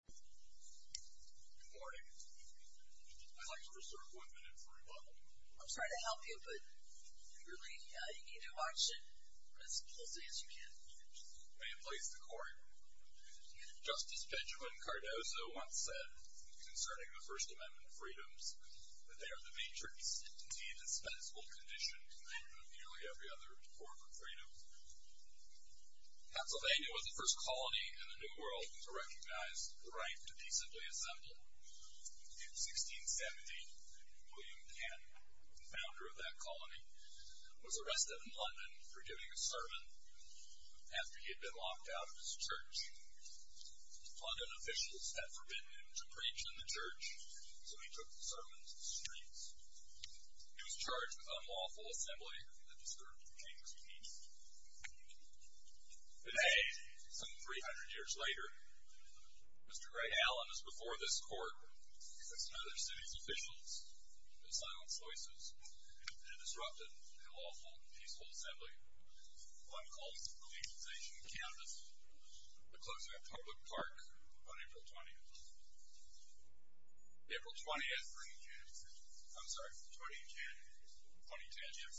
Good morning. I'd like to reserve one minute for rebuttal. I'm sorry to help you, but really, you need to watch it as closely as you can. May it please the Court. Justice Benjamin Cardozo once said, concerning the First Amendment freedoms, that they are the matrix and indeed a dispensable condition in nearly every other form of freedom. Pennsylvania was the first colony in the New World to recognize the right to decently assemble. In 1617, William Penn, the founder of that colony, was arrested in London for giving a sermon after he had been locked out of his church. London officials had forbidden him to preach in the church, so he took the sermon to the streets. He was charged with unlawful assembly and the discouragement to change his speech. Today, some 300 years later, Mr. Ray Allen is before this Court because some other city's officials have silenced voices and disrupted an unlawful, peaceful assembly. I'm calling for the legalization of cannabis. The closing of Public Park on April 20th. April 20th. I'm sorry. The 20th. The 20th. Yes.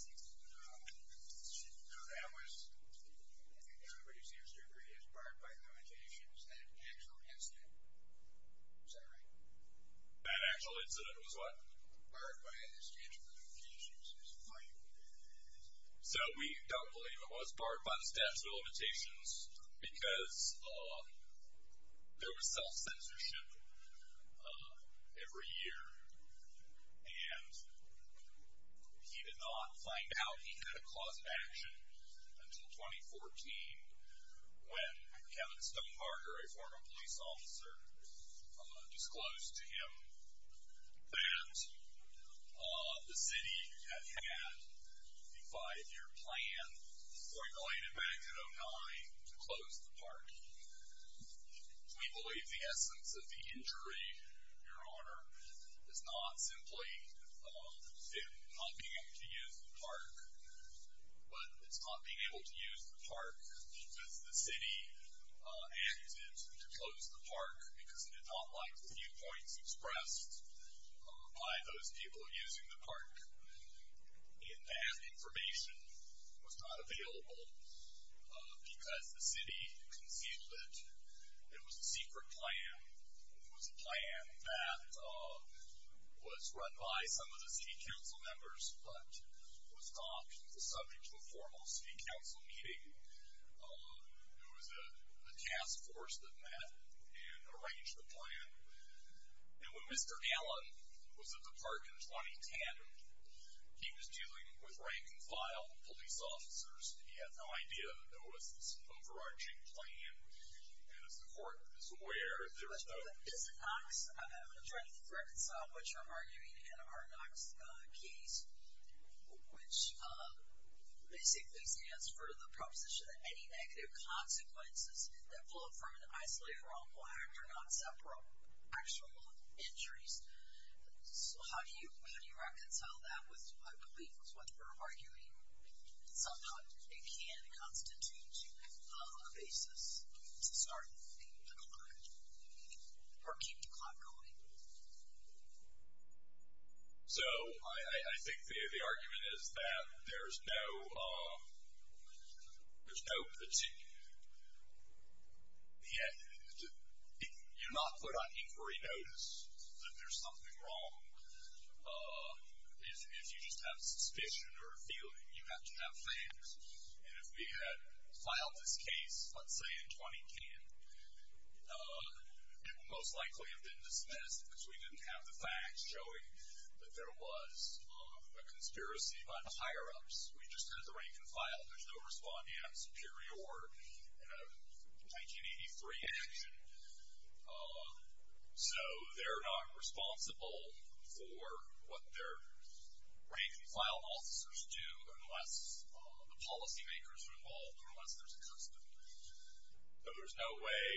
I think everybody seems to agree it was barred by limitations and an actual incident. Is that right? An actual incident was what? Barred by and in exchange for limitations. So we don't believe it was barred by the statute of limitations because there was self-censorship every year, and he did not find out he had a cause of action until 2014 when Kevin Stonemarker, a former police officer, disclosed to him that the city had had a five-year plan during the late event in 2009 to close the park. We believe the essence of the injury, Your Honor, is not simply it not being able to use the park, but it's not being able to use the park because the city acted to close the park because it did not like the viewpoints expressed by those people using the park. And that information was not available because the city conceded that it was a secret plan. It was a plan that was run by some of the city council members but was stopped in the subject of a formal city council meeting. It was a task force that met and arranged the plan. And when Mr. Allen was at the park in 2010, he was dealing with rank-and-file police officers. He had no idea there was this overarching plan, and as the court is aware, there was no— Mr. Knox, I'm trying to reconcile what you're arguing in our Knox case, which basically stands for the proposition that any negative consequences that flow from an isolated wrongful act are not separate actual injuries. So how do you reconcile that with what I believe is what you're arguing? Somehow it can constitute a basis to start a decline or keep decline going. So I think the argument is that there's no particular— you're not put on inquiry notice that there's something wrong. If you just have a suspicion or a feeling, you have to have facts. And if we had filed this case, let's say, in 2010, it would most likely have been dismissed because we didn't have the facts showing that there was a conspiracy by the higher-ups. We just had the rank-and-file. There's no respondeat superior in a 1983 action. So they're not responsible for what their rank-and-file officers do unless the policy makers are involved or unless there's a conspiracy. So there's no way,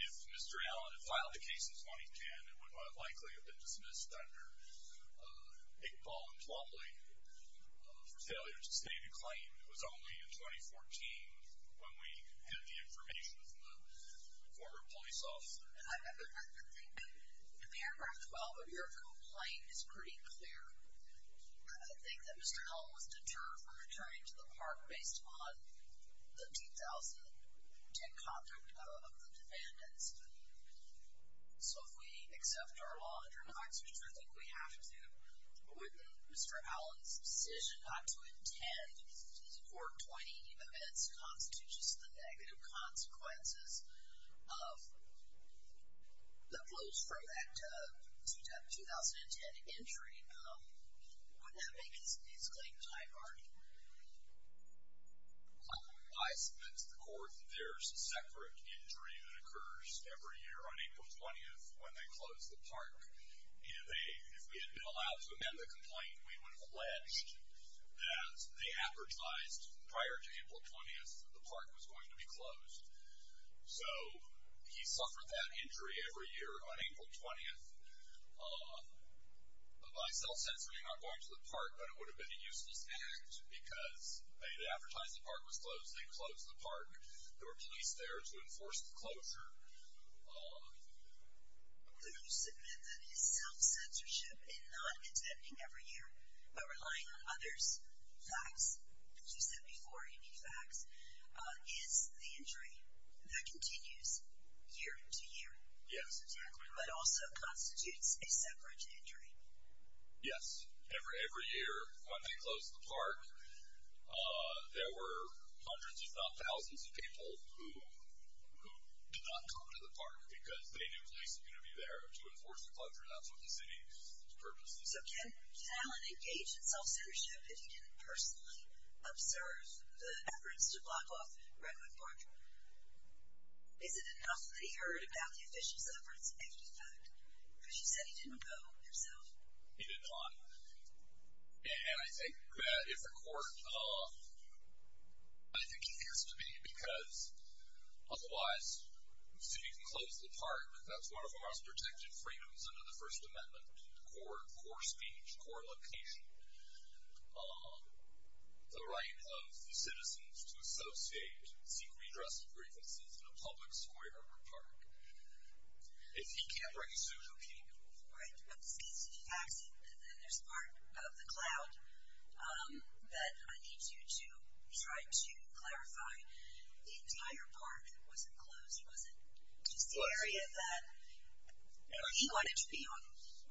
if Mr. Allen had filed the case in 2010, it would most likely have been dismissed under Iqbal and Plumlee for failure to sustain a claim. It was only in 2014 when we had the information from the former police officer. And I think the paragraph 12 of your complaint is pretty clear. I think that Mr. Allen was deterred from returning to the park based on the 2010 conduct of the defendants. So if we accept our law and turn back to the truth, I think we have to, with Mr. Allen's decision not to attend these 420 events, constitutes the negative consequences of the blows from that 2010 injury. Would that make his claim high barred? I submit to the court there's a separate injury that occurs every year on April 20th when they close the park. If we had been allowed to amend the complaint, we would have alleged that they advertised prior to April 20th that the park was going to be closed. So he suffered that injury every year on April 20th. By self-censoring, I'm going to the park, but it would have been a useless act because, hey, they advertised the park was closed, they closed the park. There were police there to enforce the closure. Would you submit that his self-censorship in not attending every year but relying on others' facts, as you said before, any facts, is the injury that continues year to year? Yes, exactly. But also constitutes a separate injury. Yes. Every year when they closed the park, there were hundreds if not thousands of people who did not come to the park because they knew police were going to be there to enforce the closure. That's what the city's purpose is. So can Allen engage in self-censorship if he can personally observe the efforts to block off Redwood Park? Is it enough that he heard about the official's efforts and he did not? Because you said he didn't go himself. He did not. And I think that if the court – I think he has to be because otherwise the city can close the park. That's one of our most protected freedoms under the First Amendment, core speech, core location. The right of the citizens to associate, seek redress of grievances in a public square or park. If he can't bring a suit, who can? Right. But there's part of the cloud that I need you to try to clarify. The entire park wasn't closed. Was it just the area that he wanted to be on?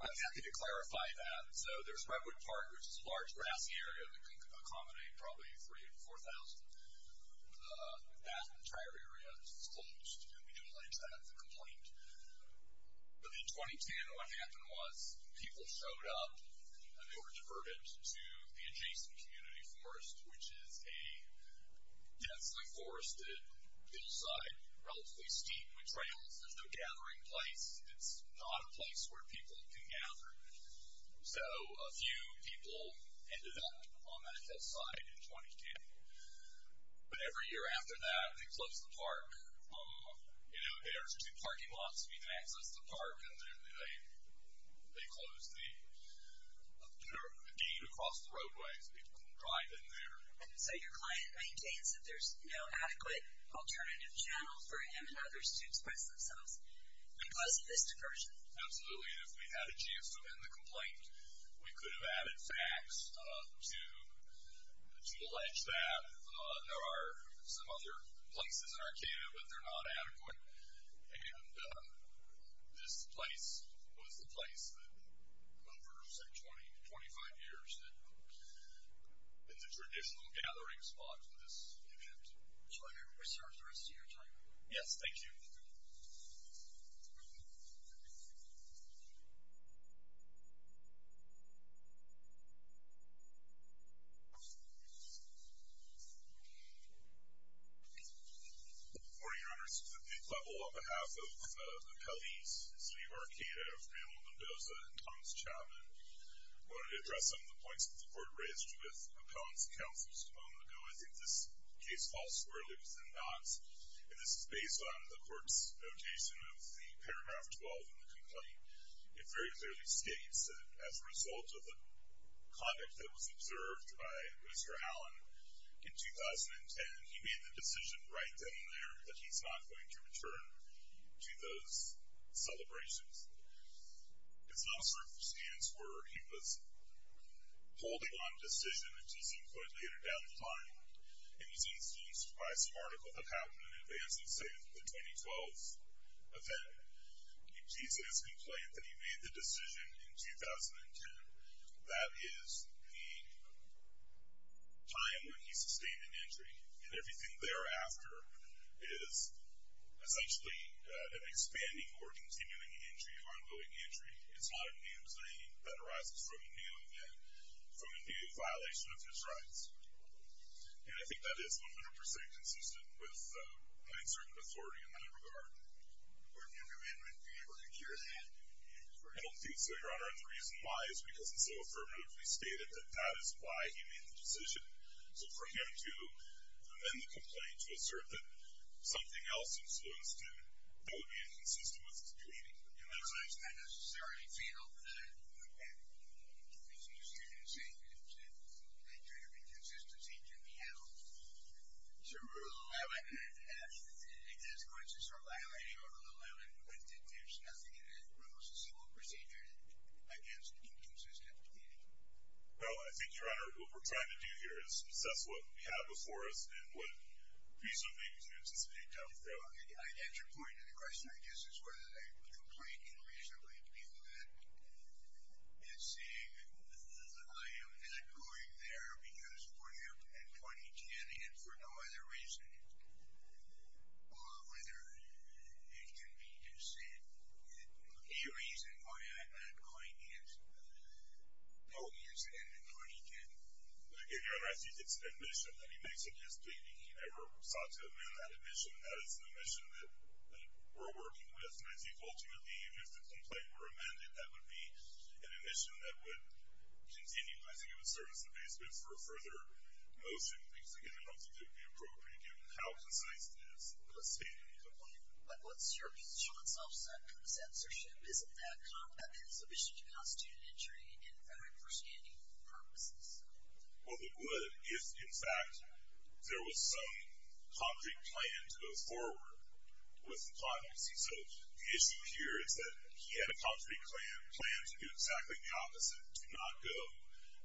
I'm happy to clarify that. So there's Redwood Park, which is a large, grassy area that can accommodate probably 3,000 to 4,000. That entire area is closed, and we do allege that as a complaint. But in 2010, what happened was people showed up and they were diverted to the adjacent community forest, which is a densely forested hillside, relatively steep with trails. There's no gathering place. It's not a place where people can gather. So a few people ended up on that hillside in 2010. But every year after that, they close the park. There's two parking lots where you can access the park, and then they close the gate across the roadway so people can drive in there. So your client maintains that there's no adequate alternative channel for him and others to express themselves because of this incursion? Absolutely, and if we had a chance to end the complaint, we could have added facts to allege that. There are some other places in Arcata, but they're not adequate. And this place was the place that, over, say, 20 to 25 years, that is a traditional gathering spot for this event. So I hear we serve the rest of your time. Yes, thank you. Before you go to the next level, on behalf of the police, the city of Arcata, of Mayor Mendoza, and Thomas Chapman, I wanted to address some of the points that the board raised with opponents and counselors a moment ago. I think this case falls squarely within that. And this is based on the court's notation of the paragraph 12 in the complaint. It very clearly states that as a result of the conduct that was observed by Mr. Allen in 2010, he made the decision right then and there that he's not going to return to those celebrations. It's not a circumstance where he was holding on a decision, which he's included later down the line. And he's excused by some article that happened in advance of, say, the 2012 event. In Jesus' complaint that he made the decision in 2010, that is the time when he sustained an injury, and everything thereafter is essentially an expanding or continuing injury, ongoing injury. It's not an injury that arises from a kneeling and from a violation of his rights. And I think that is 100% consistent with having certain authority in that regard. Your Honor, the reason why is because it's so affirmatively stated that that is why he made the decision. So for him to amend the complaint to assert that something else was supposed to, that would be inconsistent with his pleading. It looks like it's not necessarily fatal that he made the decision to say that due to inconsistency can be handled. Sir, Rule 11 asks that the consequences for violating Rule 11 be lifted. There's nothing in it that rules a civil procedure against inconsistent pleading. Well, I think, Your Honor, what we're trying to do here is assess what we have before us and what piece of the inconsistency comes from. I get your point. And the question, I guess, is whether the complaint can reasonably be lifted. And seeing that I am not going there because for him and 2010, and for no other reason, whether it can be deceived. The only reason why I'm not going is because it's 2010. Your Honor, I think it's an admission that he makes against pleading. He never sought to amend that admission. That is an admission that we're working with. And I think, ultimately, if the complaint were amended, that would be an admission that would continue. I think it would serve as an adjustment for a further motion. Because, again, I don't think it would be appropriate given how concise it is. I'm just stating your point. But what's your view on self-censorship? Isn't that competent sufficient to constitute an injury in a very understanding of the purposes? Well, the good is, in fact, there was some concrete plan to go forward with the client. You see, so the issue here is that he had a concrete plan to do exactly the opposite, to not go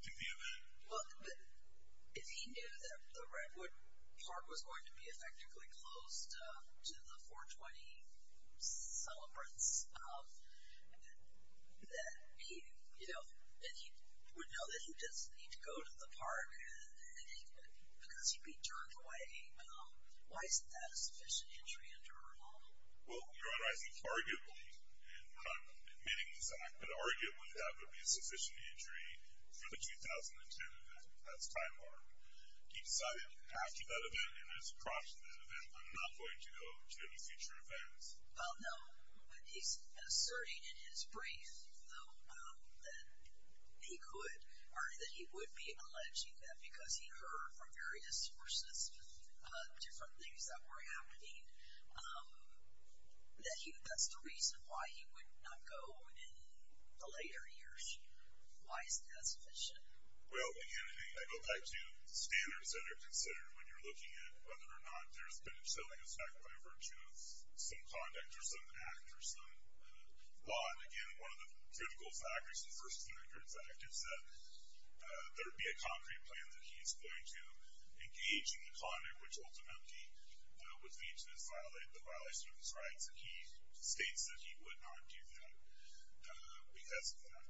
to the event. Well, but if he knew that the Redwood Park was going to be effectively closed to the 420 celebrants, that he would know that he doesn't need to go to the park because he'd be drunk, why isn't that a sufficient injury under our law? Well, you're on rising target rules, and we're not admitting this act, but arguably that would be a sufficient injury for the 2010 event. That's by far. He decided after that event and as a prompt to that event, I'm not going to go to any future events. Well, no. He's asserting in his brief, though, that he could, or that he would be alleging that because he heard from various sources different things that were happening, that that's the reason why he would not go in the later years. Why isn't that sufficient? Well, again, I go back to standards that are considered when you're looking at whether or not there's been a resilience act by virtue of some conduct or some act or some law, and, again, one of the critical factors, the first and the third factors, that there be a concrete plan that he's going to engage in the conduct which ultimately would lead to the violation of his rights, and he states that he would not do that because of that.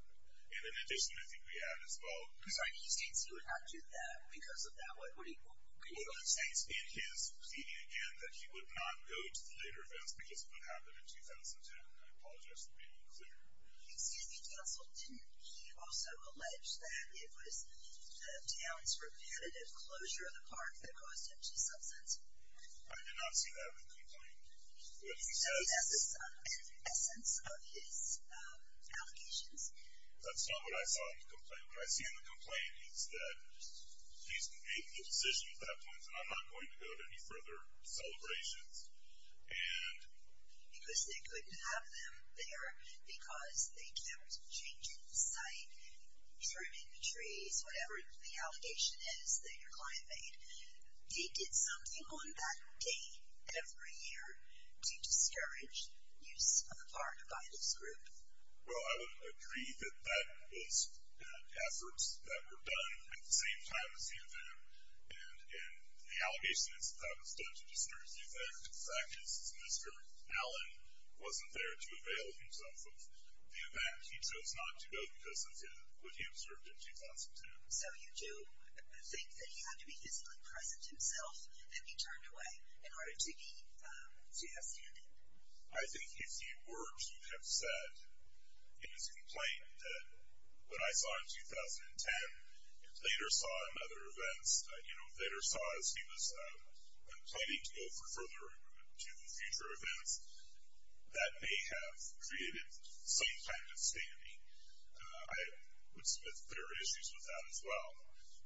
And in addition, I think we add as well. I'm sorry. He states he would not do that because of that? What do you mean? Well, he states in his opinion, again, that he would not go to the later events because of what happened in 2010. And I apologize for being unclear. Excuse me, counsel. Didn't you also allege that it was the town's repetitive closure of the park that caused him to substance? I did not see that in the complaint. He says that's the essence of his allegations. That's not what I saw in the complaint. What I see in the complaint is that he's made the decision at that point that I'm not going to go to any further celebrations. And because they couldn't have them there because they kept changing the site, trimming the trees, whatever the allegation is that your client made, he did something on that day every year to discourage use of the park by his group. Well, I would agree that that was efforts that were done at the same time as the event, and the allegation is that that was done to discourage the event. In fact, Mr. Allen wasn't there to avail himself of the event. He chose not to go because of what he observed in 2010. So you do think that he had to be physically present himself and be turned away in order to have standing? I think if he were, he would have said in his complaint that what I saw in 2010 and later saw in other events, you know, later saw as he was planning to go for further improvement to future events, that may have created some kind of standing. I would submit there are issues with that as well.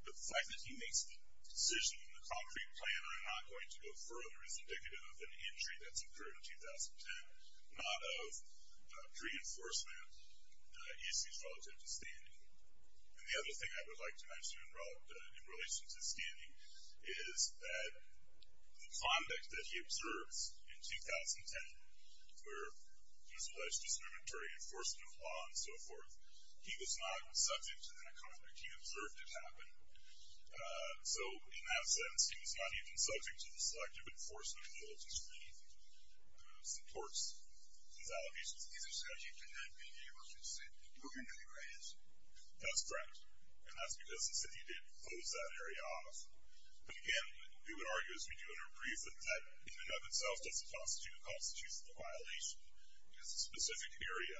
But the fact that he makes the decision in the concrete plan that I'm not going to go further is indicative of an injury that's occurred in 2010, not of reinforcement issues relative to standing. And the other thing I would like to mention in relation to standing is that the conduct that he observes in 2010, where there's alleged discriminatory enforcement of law and so forth, he was not subject to that conduct. He observed it happen. So in that sense, he was not even subject to the selective enforcement and the ability to make some torts and allegations. He said he could not be the emergency worker in the area? That's correct. And that's because the city did close that area off. But again, we would argue as we do in our brief that that in and of itself doesn't constitute a constitutional violation because a specific area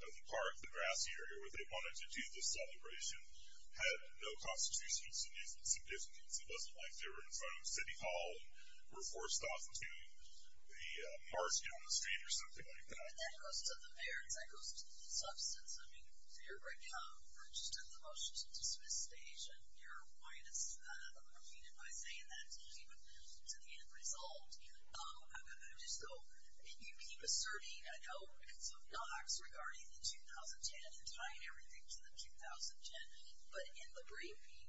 of the park, the grassy area, where they wanted to do this celebration, had no constitutional significance. It doesn't like they were in front of a city hall and were forced off to the park, you know, the stand or something like that. And that goes to the merits. That goes to the substance. I mean, to your point, Tom, you just took the motion to dismiss the station. You're a witness to that. I mean, and by saying that, you keep it to the end result. I'm going to just go. You keep asserting a note and some docs regarding the 2010 and tying everything to the 2010. But in the briefing,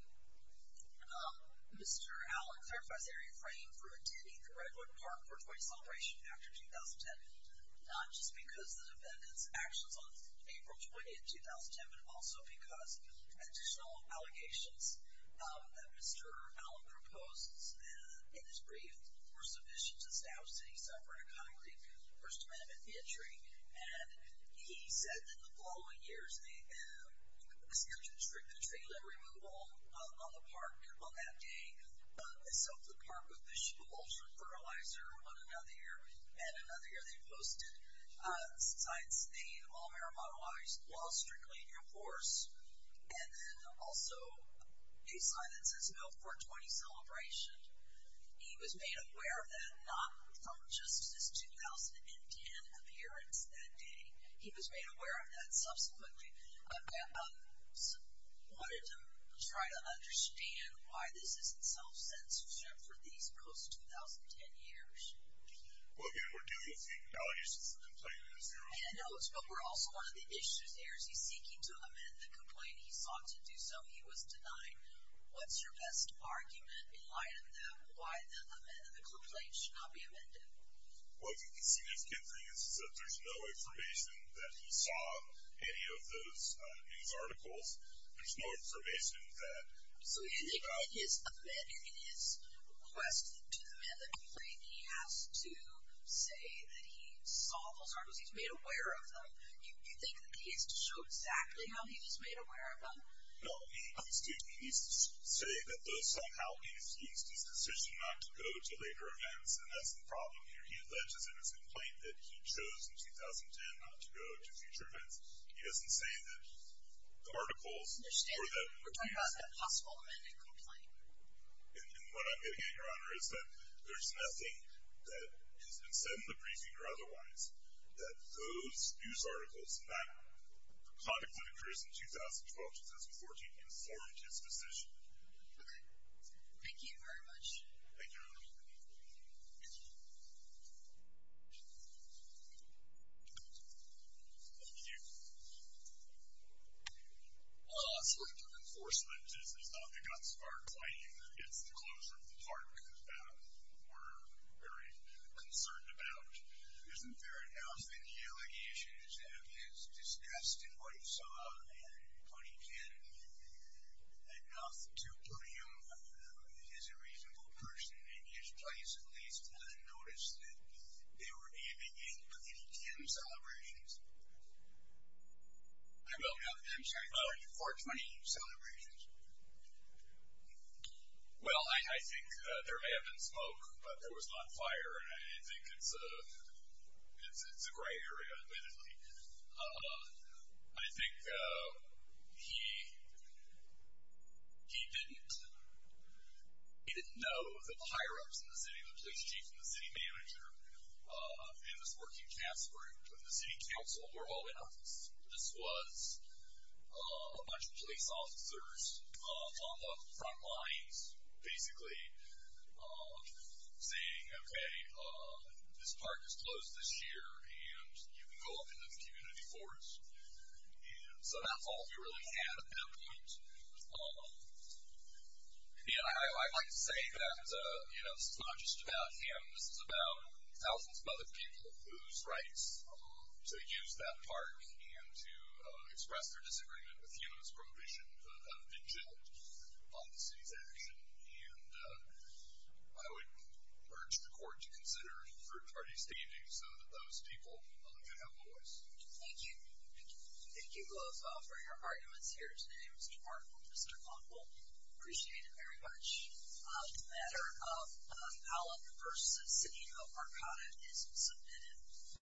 Mr. Allen clarifies they're refraining from attending the Redwood Park 420 celebration after 2010, not just because the defendant's actions on April 20th, 2010, but also because additional allegations that Mr. Allen proposed in his brief were sufficient to establish that he suffered a concrete first amendment injury. And he said that in the following years, they started to restrict the trailer removal on the park on that day. They soaked the park with the shoe ultra-fertilizer on another year. And another year, they posted a sign saying, all marijuana laws are strictly in your force. And then also a sign that says no 420 celebration. He was made aware of that not from just this 2010 appearance that day. He was made aware of that subsequently. But I wanted to try to understand why this isn't self-censorship for these post-2010 years. Well, again, we're dealing with the allegations and the complaints. Yeah, I know. But we're also one of the issues. Ares, he's seeking to amend the complaint. He sought to do so. He was denied. What's your best argument in light of that, why the amendment of the complaint should not be amended? Well, as you can see, there's no information that he sought any of those news articles. There's no information that he sought. So, in his amendment, in his request to amend the complaint, he has to say that he saw those articles, he's made aware of them. You think that he has to show exactly how he was made aware of them? No. He's saying that those somehow lead to his decision not to go to later events, and that's the problem here. He alleges in his complaint that he chose in 2010 not to go to future events. He doesn't say that the articles were that. We're talking about that possible amendment complaint. And what I'm getting at, Your Honor, is that there's nothing that has been said in the briefing or otherwise that those news articles, and that the context of the case in 2012-2014, can forge his decision. Okay. Thank you very much. Thank you, Your Honor. Thank you. Thank you. Thank you. Thank you. Thank you. Thank you. Thank you. Thank you. Thank you. Well, as far as the enforcement is, it's not the guns fired by you that gets the closure of the park that we're very concerned about. Isn't there enough in the allegations of his disgust in what he saw in 2010 enough to put him as a reasonable person in his place, at least to notice that they were aiming at 2010 celebrations? I don't know. I'm trying to clarify. For 2018 celebrations. Well, I think there may have been smoke, but there was not fire, and I think it's a gray area, basically. I think he didn't know that the higher-ups in the city, the police chief and the city manager, and his working task group and the city council were all in on this. This was a bunch of police officers on the front lines basically saying, okay, this park is closed this year, and you can go up in the community boards. And so that's all we really had at that point. I'd like to say that this is not just about him. This is about thousands of other people whose rights to use that park and to express their disagreement with humans prohibition have been jilted on the city's action. And I would urge the court to consider fruit parties this evening so that those people can have a voice. Thank you. Thank you both for your arguments here today. It was remarkable. Mr. Conville, I appreciate it very much. As a matter of how long the purchase of City of Arcata is submitted.